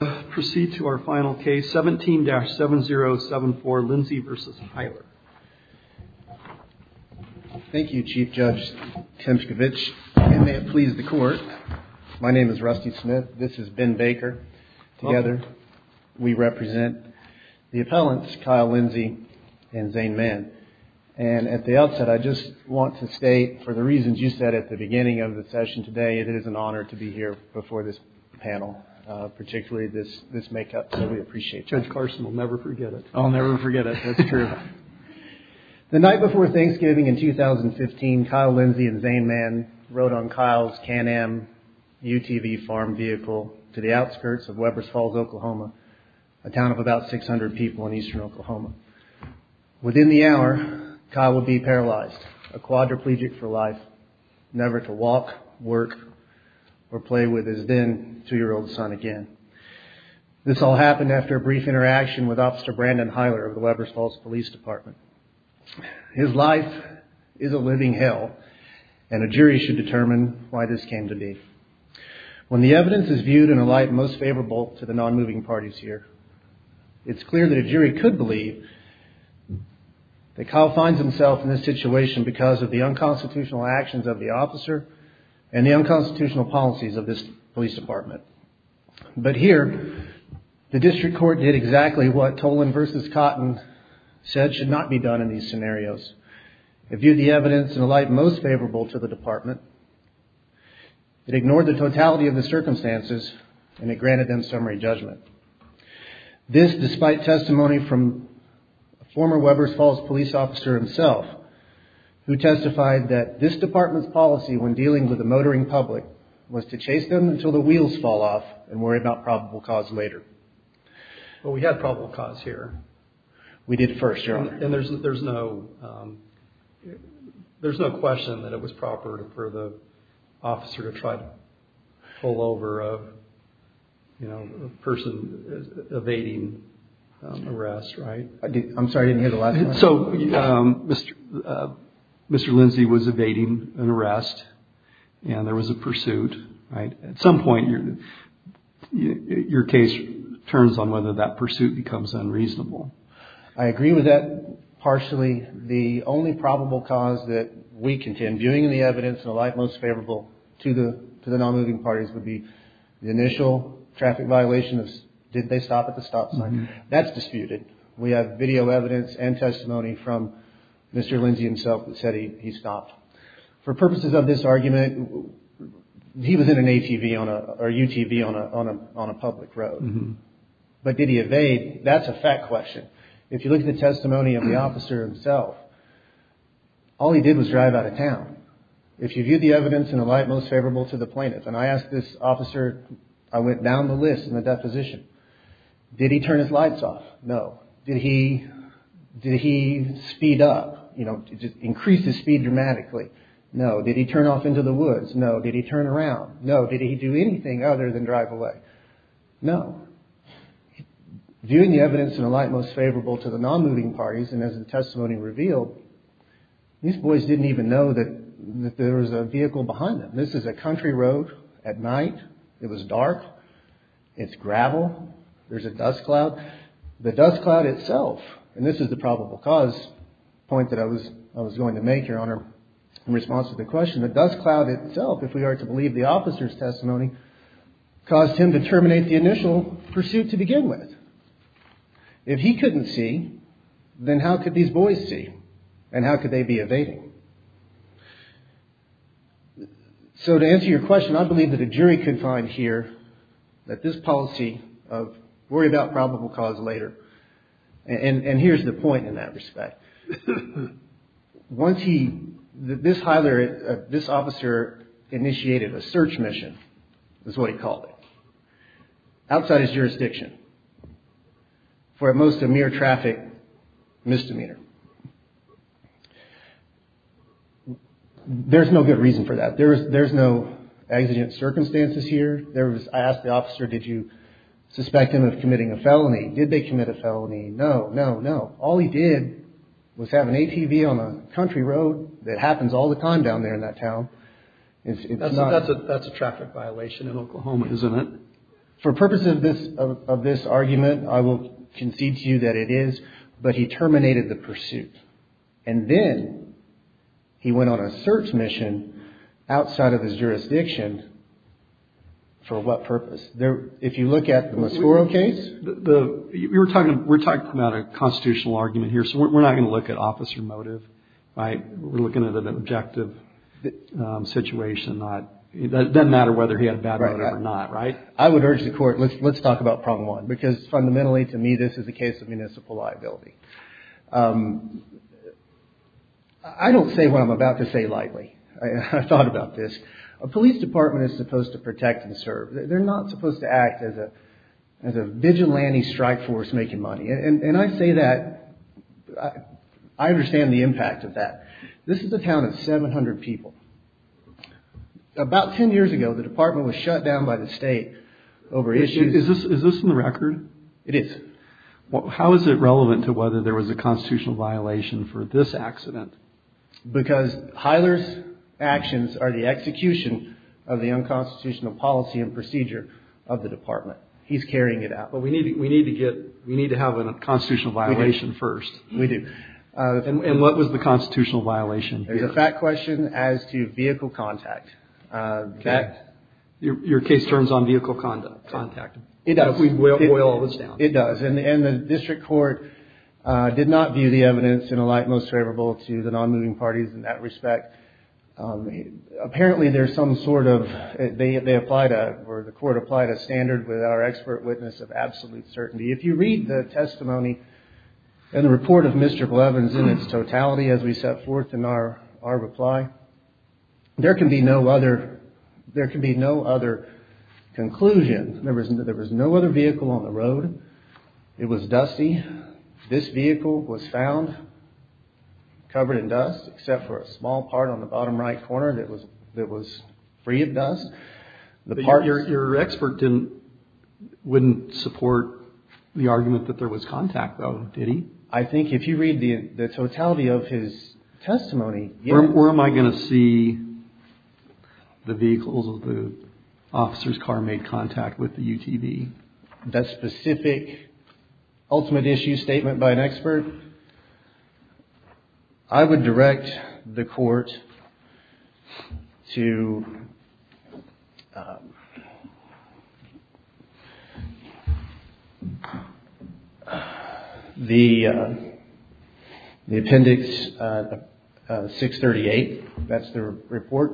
17-7074, Lindsey v. Hyler. Thank you, Chief Judge Temskevich, and may it please the Court, my name is Rusty Smith. This is Ben Baker. Together, we represent the appellants, Kyle Lindsey and Zane Mann. And at the outset, I just want to state, for the reasons you said at the beginning of the testimony, this make-up that we appreciate. Judge Carson will never forget it. I'll never forget it, that's true. The night before Thanksgiving in 2015, Kyle Lindsey and Zane Mann rode on Kyle's Can-Am UTV farm vehicle to the outskirts of Webbers Falls, Oklahoma, a town of about 600 people in eastern Oklahoma. Within the hour, Kyle would be paralyzed, a quadriplegic for life, never to walk, work, or play with his then two-year-old son again. This all happened after a brief interaction with Officer Brandon Hyler of the Webbers Falls Police Department. His life is a living hell, and a jury should determine why this came to be. When the evidence is viewed in a light most favorable to the non-moving parties here, it's clear that a jury could believe that Kyle finds himself in this situation because of the unconstitutional actions of the officer and the unconstitutional policies of this police department. But here, the district court did exactly what Toland v. Cotton said should not be done in these scenarios. It viewed the evidence in a light most favorable to the department, it ignored the totality of the circumstances, and it granted them summary judgment. This, despite testimony from a former Webbers Falls police officer himself, who testified that this department's policy when dealing with a motoring public was to chase them until the wheels fall off and worry about probable cause later. Well, we had probable cause here. We did first, yeah. And there's no question that it was proper for the officer to try to pull over a person evading arrest, right? I'm sorry, I didn't hear the last one. So Mr. Lindsey was evading an arrest and there was a pursuit, right? At some point, your case turns on whether that pursuit becomes unreasonable. I agree with that partially. The only probable cause that we contend, viewing the evidence in a light most favorable to the non-moving parties, would be the initial traffic violation. Did they stop at the stop sign? That's disputed. We have video evidence and testimony from Mr. Lindsey himself that said he stopped. For purposes of this argument, he was in an ATV or UTV on a public road, but did he evade? That's a fact question. If you look at the testimony of the officer himself, all he did was drive out of town. If you view the evidence in a light most favorable to the plaintiff, and I asked this officer, I went down the list in the deposition. Did he turn his lights off? No. Did he speed up, increase his speed dramatically? No. Did he turn off into the woods? No. Did he turn around? No. Did he do anything other than drive away? No. Viewing the evidence in a light most favorable to the non-moving parties, and as the testimony revealed, these boys didn't even know that there was a vehicle behind them. This is a country road at night, it was dark, it's gravel, there's a dust cloud. The dust cloud itself, and this is the probable cause point that I was going to make, Your Honor, in response to the question, the dust cloud itself, if we are to believe the officer's testimony, caused him to terminate the initial pursuit to begin with. If he couldn't see, then how could these boys see? And how could they be evading? So to answer your question, I believe that a jury could find here that this policy of worry about probable cause later, and here's the point in that respect. Once he, this officer initiated a search mission, is what he called it, outside his jurisdiction. For at most a mere traffic misdemeanor. There's no good reason for that. There's no exigent circumstances here. I asked the officer, did you suspect him of committing a felony? Did they commit a felony? No, no, no. All he did was have an ATV on a country road that happens all the time down there in that town. It's not... That's a traffic violation in Oklahoma, isn't it? For purposes of this argument, I will concede to you that it is, but he terminated the pursuit. And then, he went on a search mission outside of his jurisdiction. For what purpose? If you look at the Mosforo case... We're talking about a constitutional argument here, so we're not going to look at officer motive, right? We're looking at an objective situation, not, it doesn't matter whether he had a bad motive or not, right? I would urge the court, let's talk about problem one, because fundamentally, to me, this is a case of municipal liability. I don't say what I'm about to say lightly. I've thought about this. A police department is supposed to protect and serve. They're not supposed to act as a vigilante strike force making money. And I say that, I understand the impact of that. This is a town of 700 people. About 10 years ago, the department was shut down by the state over issues... Is this in the record? It is. How is it relevant to whether there was a constitutional violation for this accident? Because Heiler's actions are the execution of the unconstitutional policy and procedure of the department. He's carrying it out. But we need to have a constitutional violation first. We do. And what was the constitutional violation? There's a fact question as to vehicle contact. Your case turns on vehicle contact. It does. We boil all this down. It does. And the district court did not view the evidence in a light most favorable to the non-moving parties in that respect. Apparently there's some sort of, they applied, or the court applied a standard with our expert witness of absolute certainty. If you read the testimony and the report of Mr. Clevens in its totality as we set forth in our reply, there can be no other conclusions. There was no other vehicle on the road. It was dusty. This vehicle was found covered in dust except for a small part on the bottom right corner that was free of dust. Your expert wouldn't support the argument that there was contact though, did he? I think if you read the totality of his testimony, yes. Where am I going to see the vehicles of the officer's car made contact with the UTV? That specific ultimate issue statement by an expert, I would direct the court to the appendix 638, that's the report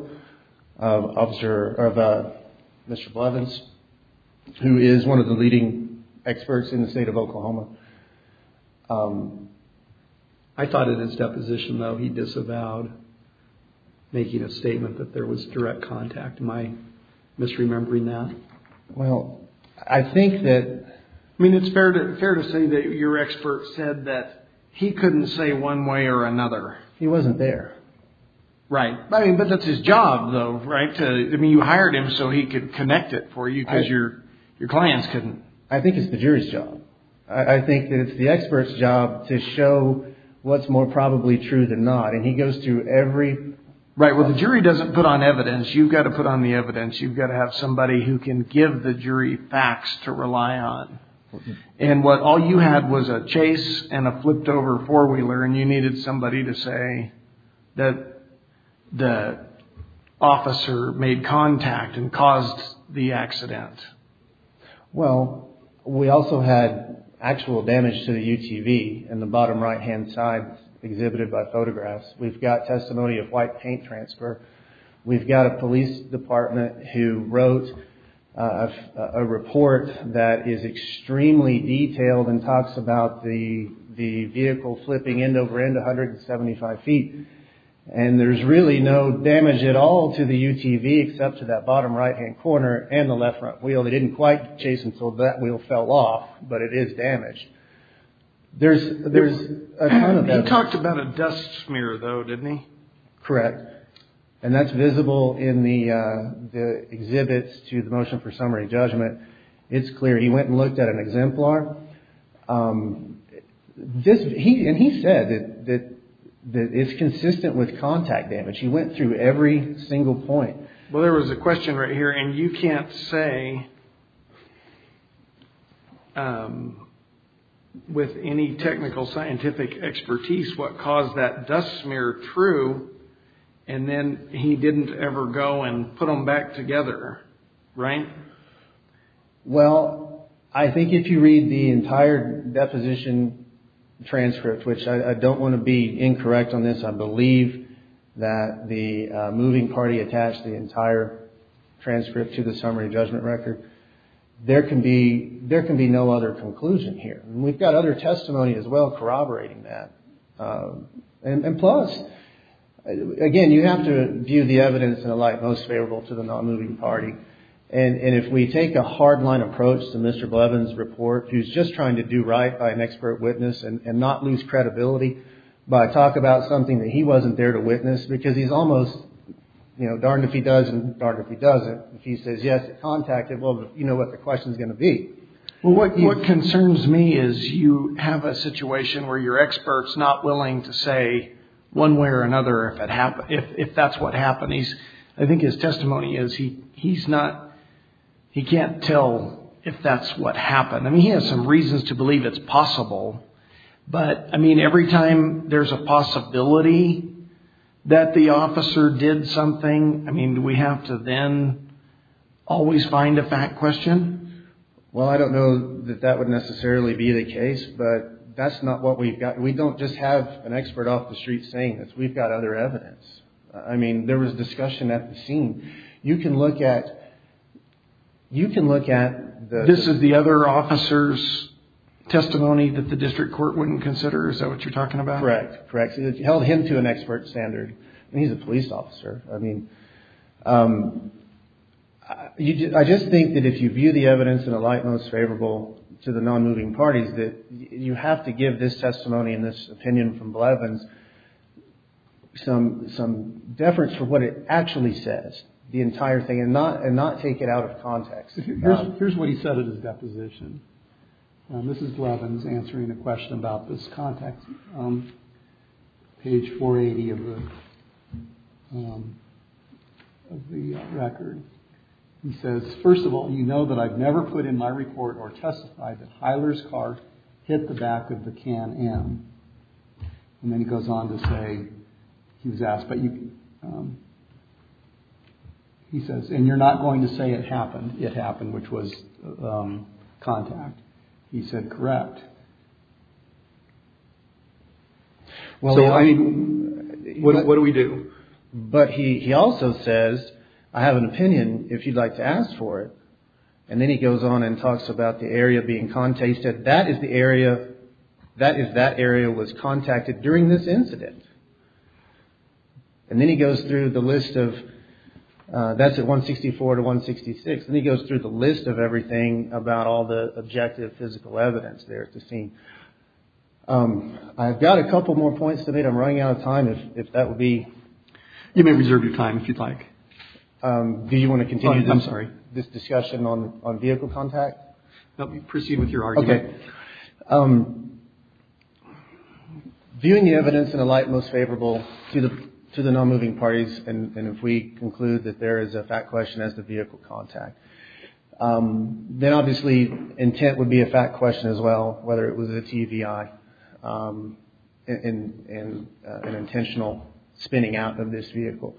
of Mr. Clevens, who is one of the leading experts in the state of Oklahoma. I thought in his deposition though he disavowed making a statement that there was direct contact. Am I misremembering that? Well, I think that... I mean, it's fair to say that your expert said that he couldn't say one way or another. He wasn't there. Right. I mean, but that's his job though, right? I mean, you hired him so he could connect it for you because your clients couldn't. I think it's the jury's job. I think that it's the expert's job to show what's more probably true than not. And he goes through every... Right, well, the jury doesn't put on evidence. You've got to put on the evidence. You've got to have somebody who can give the jury facts to rely on. And what all you had was a chase and a flipped over four-wheeler and you needed somebody to say that the officer made contact and caused the accident. Well, we also had actual damage to the UTV in the bottom right-hand side exhibited by photographs. We've got testimony of white paint transfer. We've got a police department who wrote a report that is extremely detailed and talks about the vehicle flipping end-over-end 175 feet. And there's really no damage at all to the UTV except to that bottom right-hand corner and the left front wheel. They didn't quite chase until that wheel fell off, but it is damaged. There's a ton of evidence. He talked about a dust smear, though, didn't he? Correct. And that's visible in the exhibits to the motion for summary judgment. It's clear he went and looked at an exemplar. And he said that it's consistent with contact damage. He went through every single point. Well, there was a question right here, and you can't say with any technical scientific expertise what caused that dust smear true, and then he didn't ever go and put them back together, right? Well, I think if you read the entire deposition transcript, which I don't want to be the entire transcript to the summary judgment record, there can be no other conclusion here. And we've got other testimony as well corroborating that. And plus, again, you have to view the evidence in a light most favorable to the non-moving party. And if we take a hard-line approach to Mr. Blevins' report, who's just trying to do right by an expert witness and not lose credibility by talking about something that he wasn't there to witness, because he's almost, you know, darned if he does and darned if he doesn't, if he says, yes, it contacted, well, you know what the question's going to be. Well, what concerns me is you have a situation where your expert's not willing to say one way or another if that's what happened. I think his testimony is he can't tell if that's what happened. I mean, he has some reasons to believe it's possible. But, I mean, every time there's a possibility that the officer did something, I mean, do we have to then always find a fact question? Well, I don't know that that would necessarily be the case, but that's not what we've got. We don't just have an expert off the street saying this. We've got other evidence. I mean, there was discussion at the scene. You can look at, you can look at the... Is that what you're talking about? Correct. Correct. It held him to an expert standard. I mean, he's a police officer. I mean, I just think that if you view the evidence in a light most favorable to the non-moving parties, that you have to give this testimony and this opinion from Blevins some deference for what it actually says, the entire thing, and not take it out of context. Here's what he said at his deposition. This is Blevins answering a question about this context, page 480 of the record. He says, first of all, you know that I've never put in my report or testified that Hyler's car hit the back of the Can-Am. And then he goes on to say, he was asked, but he says, and you're not going to say it happened. It happened, which was contact. He said, correct. Well, I mean, what do we do? But he also says, I have an opinion, if you'd like to ask for it. And then he goes on and talks about the area being contacted. He said, that is the area, that is that area was contacted during this incident. And then he goes through the list of, that's at 164 to 166, and he goes through the list of everything about all the objective physical evidence there to see. I've got a couple more points to make. I'm running out of time. If that would be. You may reserve your time if you'd like. Do you want to continue this discussion on vehicle contact? Proceed with your argument. Okay. Viewing the evidence in a light most favorable to the non-moving parties, and if we conclude that there is a fact question as to vehicle contact, then obviously intent would be a fact question as well, whether it was a TVI and an intentional spinning out of this vehicle.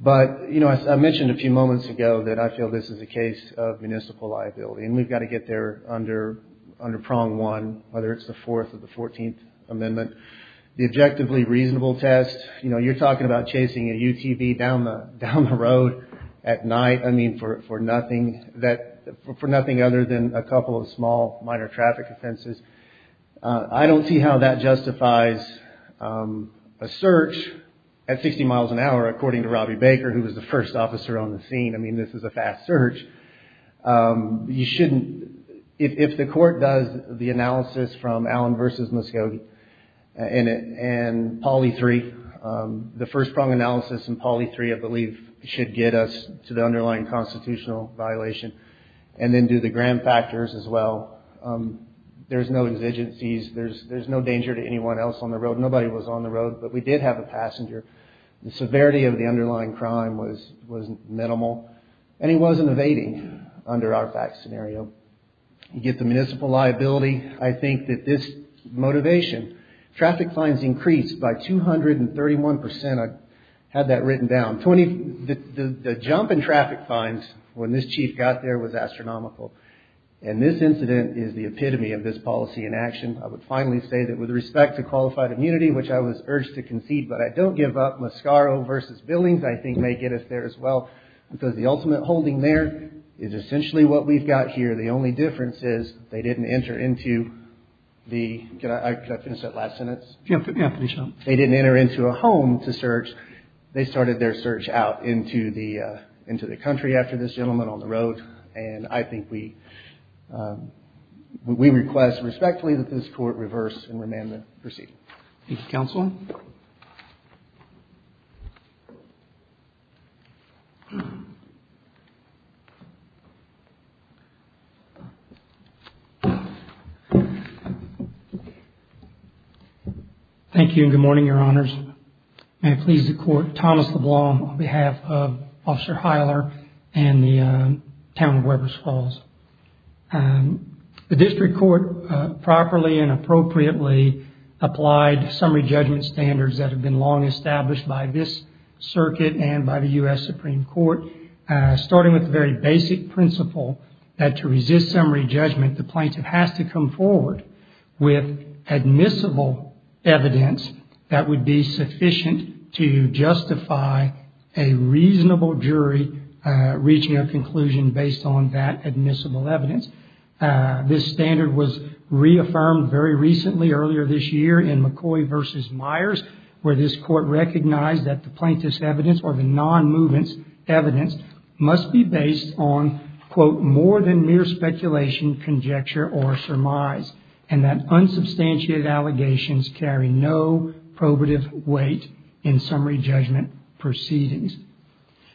But, you know, I mentioned a few moments ago that I feel this is a case of municipal liability, and we've got to get there under prong one, whether it's the 4th or the 14th Amendment. The objectively reasonable test, you know, you're talking about chasing a UTV down the road at night, I mean, for nothing other than a couple of small, minor traffic offenses. I don't see how that justifies a search at 60 miles an hour, according to Robbie Baker, who was the first officer on the scene. I mean, this is a fast search. You shouldn't, if the court does the analysis from Allen v. Muscogee and Polly 3, the first prong analysis in Polly 3, I believe, should get us to the underlying constitutional violation and then do the gram factors as well. There's no exigencies. There's no danger to anyone else on the road. Nobody was on the road, but we did have a passenger. The severity of the underlying crime was minimal, and he wasn't evading under our fact scenario. You get the municipal liability. I think that this motivation, traffic fines increased by 231 percent. I had that written down. The jump in traffic fines when this chief got there was astronomical, and this incident is the epitome of this policy in action. I would finally say that with respect to qualified immunity, which I was urged to concede, but I don't give up. Mascaro v. Billings, I think, may get us there as well, because the ultimate holding there is essentially what we've got here. The only difference is they didn't enter into the – can I finish that last sentence? Yeah, please. They didn't enter into a home to search. They started their search out into the country after this gentleman on the road, and I think we request respectfully that this Court reverse and remand the proceeding. Thank you, Counsel. Thank you, and good morning, Your Honors. May it please the Court, Thomas LeBlanc on behalf of Officer Heiler and the Town of Webers Falls. The district court properly and appropriately applied summary judgment standards that have been long established by this circuit and by the U.S. Supreme Court, starting with the very basic principle that to resist summary judgment, the plaintiff has to come forward with admissible evidence that would be sufficient to justify a reasonable jury reaching a conclusion based on that admissible evidence. This standard was reaffirmed very recently earlier this year in McCoy v. Myers, where this Court recognized that the plaintiff's evidence or the non-movement's evidence must be based on, quote, more than mere speculation, conjecture, or surmise, and that unsubstantiated allegations carry no probative weight in summary judgment proceedings.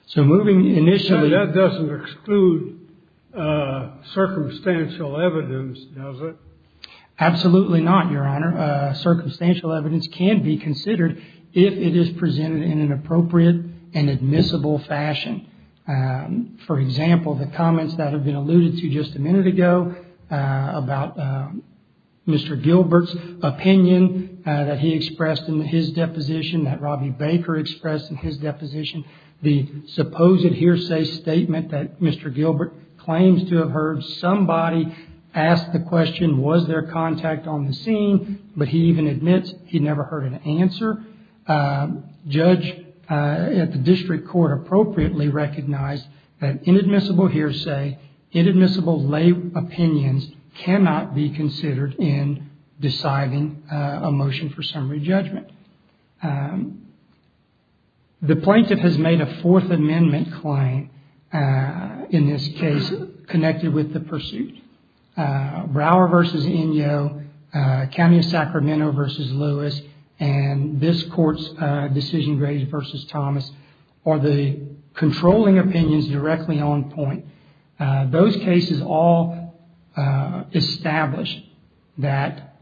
So moving initially... So that doesn't exclude circumstantial evidence, does it? Absolutely not, Your Honor. Circumstantial evidence can be considered if it is presented in an appropriate and admissible fashion. For example, the comments that have been alluded to just a minute ago about Mr. Gilbert's statement that he expressed in his deposition, that Robbie Baker expressed in his deposition, the supposed hearsay statement that Mr. Gilbert claims to have heard somebody ask the question, was there contact on the scene? But he even admits he never heard an answer. Judge at the district court appropriately recognized that inadmissible hearsay, inadmissible lay opinions cannot be considered in deciding a motion for summary judgment. The plaintiff has made a Fourth Amendment claim in this case connected with the pursuit. Brower v. Inyo, Camus Sacramento v. Lewis, and this Court's decision, Grady v. Thomas, are the controlling opinions directly on point. Those cases all establish that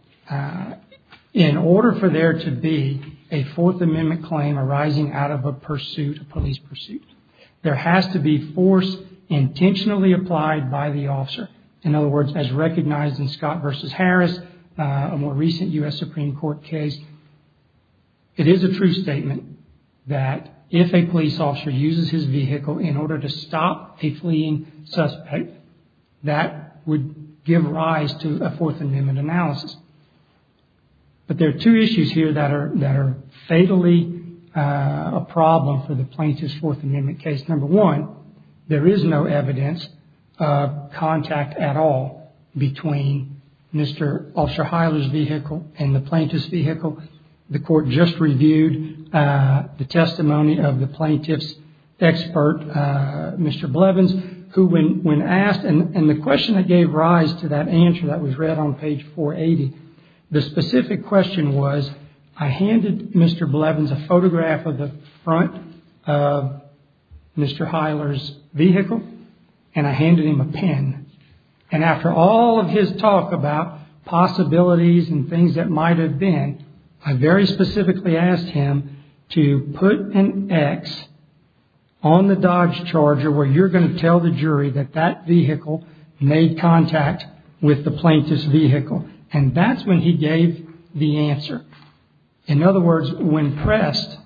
in order for there to be a Fourth Amendment claim arising out of a pursuit, a police pursuit, there has to be force intentionally applied by the officer. In other words, as recognized in Scott v. Harris, a more recent U.S. Supreme Court case, it is a true statement that if a police officer uses his vehicle in order to stop a fleeing suspect, that would give rise to a Fourth Amendment analysis. But there are two issues here that are fatally a problem for the plaintiff's Fourth Amendment case. Number one, there is no evidence of contact at all between Mr. Officer Hyler's vehicle and the plaintiff's vehicle. The Court just reviewed the testimony of the plaintiff's expert, Mr. Blevins, who when asked, and the question that gave rise to that answer that was read on page 480, the specific question was, I handed Mr. Blevins a photograph of the front of Mr. Hyler's vehicle, and I handed him a pen, and after all of his talk about possibilities and things that might have been, I very specifically asked him to put an X on the Dodge Charger where you're going to tell the jury that that vehicle made contact with the plaintiff's vehicle. And that's when he gave the answer. In other words, when pressed,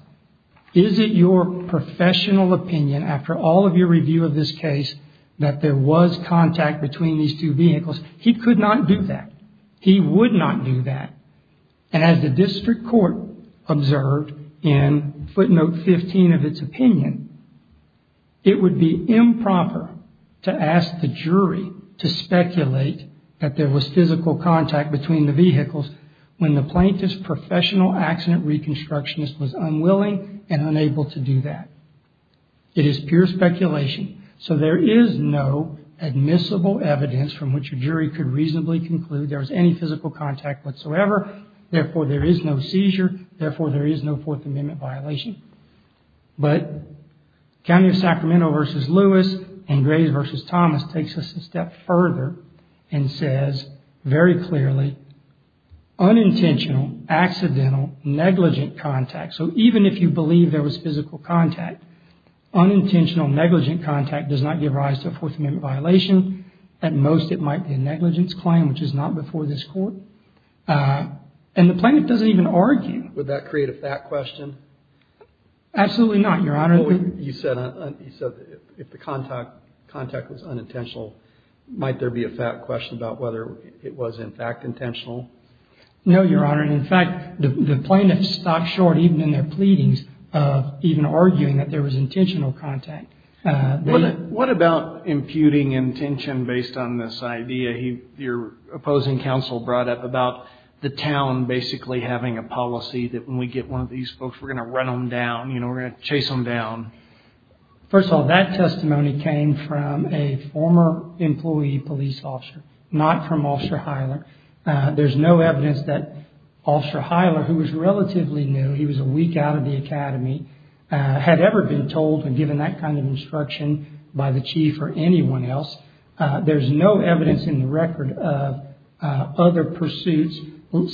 is it your professional opinion, after all of your review of this case, that there was contact between these two vehicles? He could not do that. He would not do that. And as the District Court observed in footnote 15 of its opinion, it would be improper to ask the jury to speculate that there was physical contact between the vehicles when the plaintiff's professional accident reconstructionist was unwilling and unable to do that. It is pure speculation. So there is no admissible evidence from which a jury could reasonably conclude that there was any physical contact whatsoever. Therefore, there is no seizure. Therefore, there is no Fourth Amendment violation. But County of Sacramento v. Lewis and Grays v. Thomas takes us a step further and says very clearly, unintentional, accidental, negligent contact. So even if you believe there was physical contact, unintentional, negligent contact does not give rise to a Fourth Amendment violation. At most, it might be a negligence claim, which is not before this Court. And the plaintiff doesn't even argue. Would that create a fact question? Absolutely not, Your Honor. You said if the contact was unintentional, might there be a fact question about whether it was, in fact, intentional? No, Your Honor. In fact, the plaintiff stopped short, even in their pleadings, of even arguing that there was intentional contact. What about imputing intention based on this idea your opposing counsel brought up about the town basically having a policy that when we get one of these folks, we're going to run them down, you know, we're going to chase them down? First of all, that testimony came from a former employee police officer, not from Officer Hiler. There's no evidence that Officer Hiler, who was relatively new, he was a week out of the academy, had ever been told and given that kind of instruction by the chief or anyone else. There's no evidence in the record of other pursuits,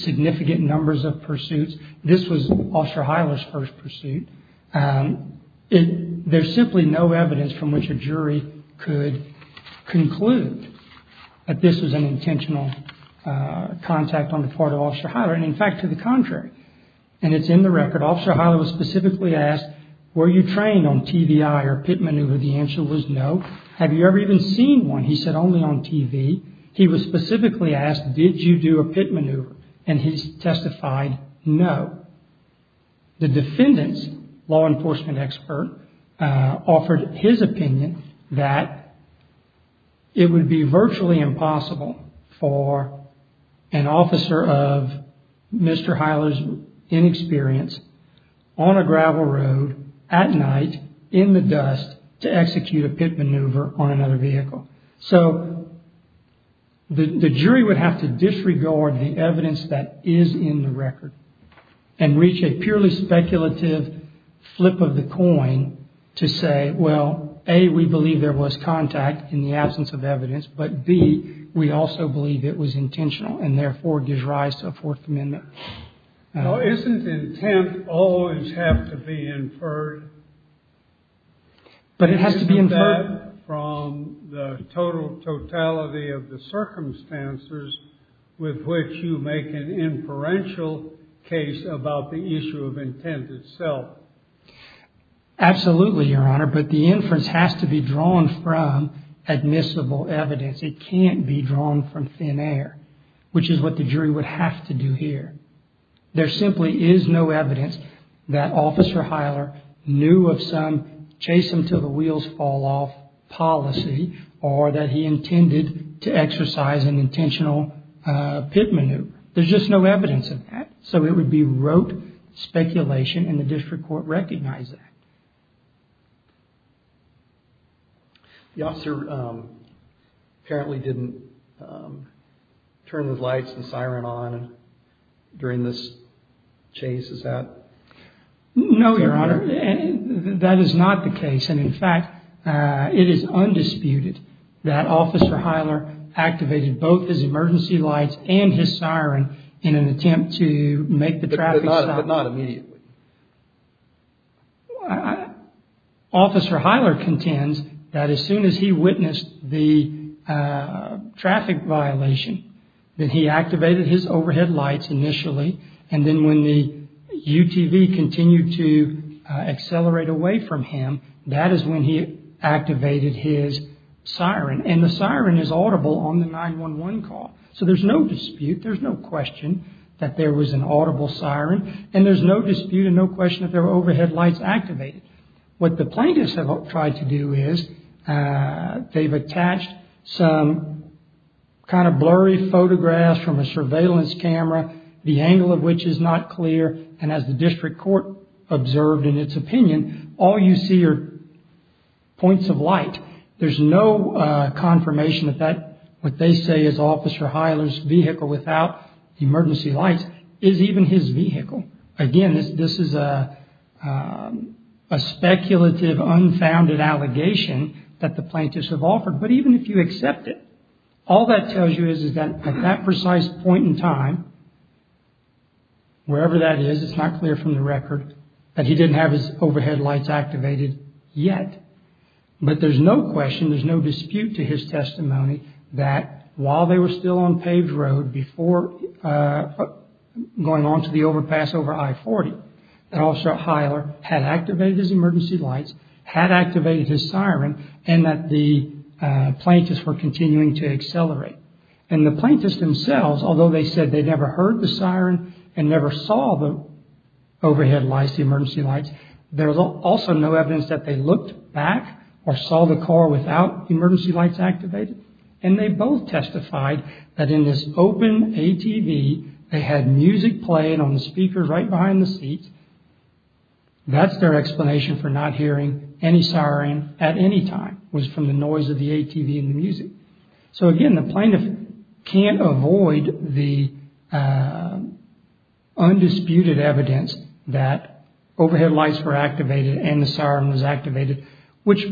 significant numbers of pursuits. This was Officer Hiler's first pursuit. There's simply no evidence from which a jury could conclude that this was an intentional contact on the part of Officer Hiler. And, in fact, to the contrary, and it's in the record, Officer Hiler was specifically asked, were you trained on TVI or pit maneuver? The answer was no. Have you ever even seen one? He said, only on TV. He was specifically asked, did you do a pit maneuver? And he testified, no. However, the defendant's law enforcement expert offered his opinion that it would be virtually impossible for an officer of Mr. Hiler's inexperience on a gravel road, at night, in the dust, to execute a pit maneuver on another vehicle. So the jury would have to disregard the evidence that is in the record and reach a purely speculative flip of the coin to say, well, A, we believe there was contact in the absence of evidence, but B, we also believe it was intentional and therefore gives rise to a Fourth Amendment. Isn't intent always have to be inferred? But it has to be inferred from the totality of the circumstances with which you make an inferential case about the issue of intent itself. Absolutely, Your Honor. But the inference has to be drawn from admissible evidence. It can't be drawn from thin air, which is what the jury would have to do here. There simply is no evidence that Officer Hiler knew of some chase-until-the-wheels-fall-off policy or that he intended to exercise an intentional pit maneuver. There's just no evidence of that. So it would be rote speculation and the district court recognized that. The officer apparently didn't turn the lights and siren on during this chase, is that correct? No, Your Honor. That is not the case. And, in fact, it is undisputed that Officer Hiler activated both his emergency lights and his siren in an attempt to make the traffic stop. But not immediately? Officer Hiler contends that as soon as he witnessed the traffic violation, that he activated his overhead lights initially, and then when the UTV continued to accelerate away from him, that is when he activated his siren. And the siren is audible on the 911 call. So there's no dispute, there's no question that there was an audible siren. And there's no dispute and no question that there were overhead lights activated. What the plaintiffs have tried to do is they've attached some kind of blurry photographs from a surveillance camera, the angle of which is not clear, and as the district court observed in its opinion, all you see are points of light. There's no confirmation that what they say is Officer Hiler's vehicle without emergency lights is even his vehicle. Again, this is a speculative, unfounded allegation that the plaintiffs have offered. But even if you accept it, all that tells you is that at that precise point in time, wherever that is, it's not clear from the record that he didn't have his overhead lights activated yet. But there's no question, there's no dispute to his testimony that while they were still on Paved Road, before going on to the overpass over I-40, that Officer Hiler had activated his emergency lights, had activated his siren, and that the plaintiffs were continuing to accelerate. And the plaintiffs themselves, although they said they never heard the siren and never saw the overhead lights, there's also no evidence that they looked back or saw the car without emergency lights activated. And they both testified that in this open ATV, they had music playing on the speakers right behind the seats. That's their explanation for not hearing any siren at any time, was from the noise of the ATV and the music. So again, the plaintiff can't avoid the undisputed evidence that overhead lights were activated and the siren was activated, which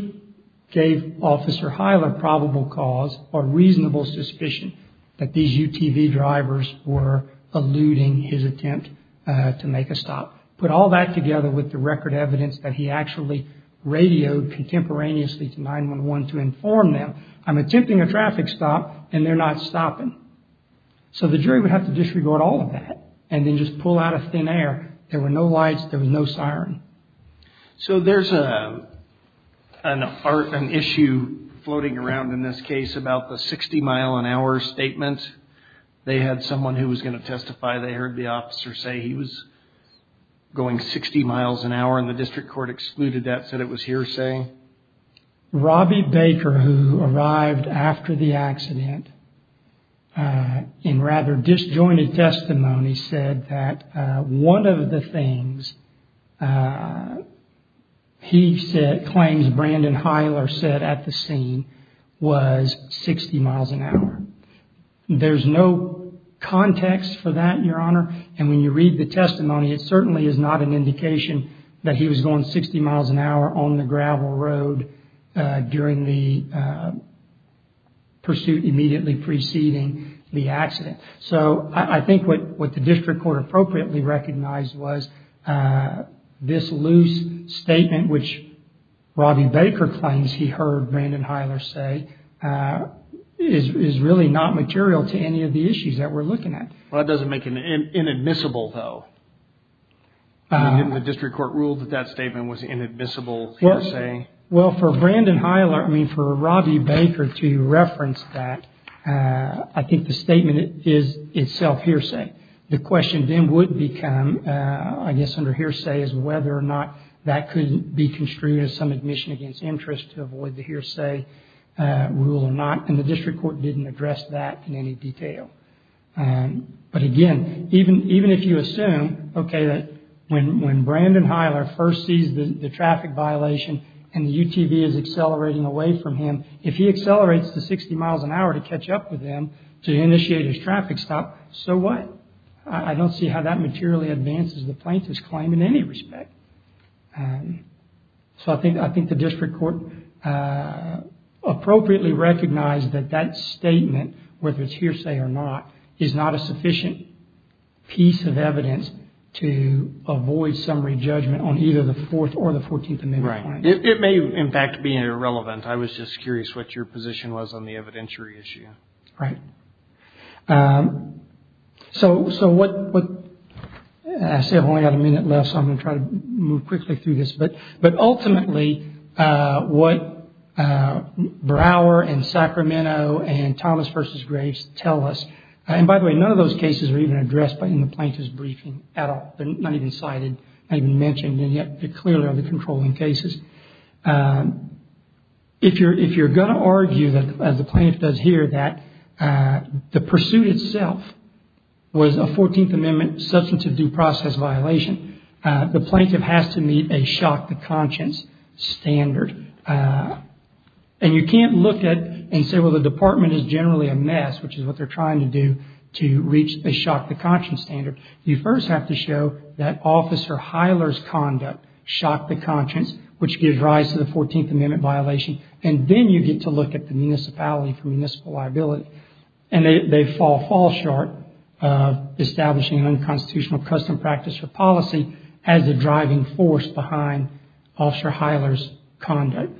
gave Officer Hiler probable cause or reasonable suspicion that these UTV drivers were eluding his attempt to make a stop. Put all that together with the record evidence that he actually radioed contemporaneously to 911 to inform them, I'm attempting a traffic stop and they're not stopping. So the jury would have to disregard all of that and then just pull out of thin air. There were no lights. There was no siren. So there's an issue floating around in this case about the 60-mile-an-hour statement. They had someone who was going to testify. They heard the officer say he was going 60 miles an hour, and the district court excluded that, said it was hearsay. Robbie Baker, who arrived after the accident in rather disjointed testimony, said that one of the things he claims Brandon Hiler said at the scene was 60 miles an hour. There's no context for that, Your Honor. And when you read the testimony, it certainly is not an indication that he was going 60 miles an hour on the gravel road during the pursuit immediately preceding the accident. So I think what the district court appropriately recognized was this loose statement, which Robbie Baker claims he heard Brandon Hiler say, is really not material to any of the issues that we're looking at. Well, that doesn't make it inadmissible, though. Didn't the district court rule that that statement was inadmissible hearsay? Well, for Brandon Hiler, I mean, for Robbie Baker to reference that, I think the statement is itself hearsay. The question then would become, I guess under hearsay, is whether or not that could be construed as some admission against interest to avoid the hearsay rule or not. And the district court didn't address that in any detail. But again, even if you assume, OK, that when Brandon Hiler first sees the traffic violation and the UTV is accelerating away from him, if he accelerates to 60 miles an hour to catch up with him to initiate his traffic stop, so what? I don't see how that materially advances the plaintiff's claim in any respect. So I think the district court appropriately recognized that that statement, whether it's hearsay or not, is not a sufficient piece of evidence to avoid summary judgment on either the Fourth or the Fourteenth Amendment. Right. It may, in fact, be irrelevant. I was just curious what your position was on the evidentiary issue. Right. So. So what I say, I've only got a minute left, so I'm going to try to move quickly through this. But but ultimately, what Brower and Sacramento and Thomas versus Grace tell us. And by the way, none of those cases are even addressed by the plaintiff's briefing at all. They're not even cited, not even mentioned. And yet they clearly are the controlling cases. If you're if you're going to argue that, as the plaintiff does here, that the pursuit itself was a Fourteenth Amendment substance of due process violation, the plaintiff has to meet a shock to conscience standard. And you can't look at and say, well, the department is generally a mess, which is what they're trying to do to reach a shock to conscience standard. You first have to show that officer Hyler's conduct shocked the conscience, which gives rise to the Fourteenth Amendment violation. And then you get to look at the municipality for municipal liability. And they fall short of establishing an unconstitutional custom practice or policy as a driving force behind officer Hyler's conduct.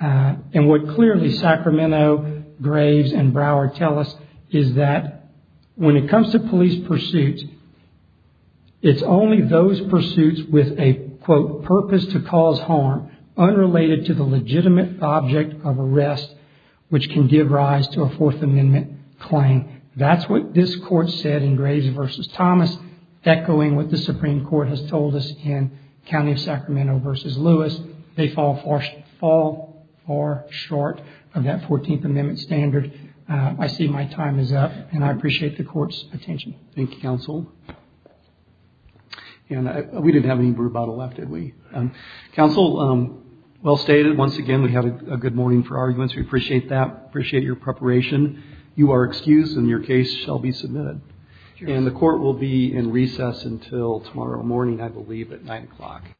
And what clearly Sacramento, Graves and Brower tell us is that when it comes to police pursuit, it's only those pursuits with a, quote, purpose to cause harm unrelated to the legitimate object of arrest, which can give rise to a Fourth Amendment claim. That's what this court said in Graves versus Thomas, echoing what the Supreme Court has told us in County of Sacramento versus Lewis. They fall far short of that Fourteenth Amendment standard. I see my time is up, and I appreciate the court's attention. Thank you, counsel. And we didn't have any brew bottle left, did we? Counsel, well stated. Once again, we have a good morning for arguments. We appreciate that. Appreciate your preparation. You are excused, and your case shall be submitted. And the court will be in recess until tomorrow morning, I believe, at 9 o'clock.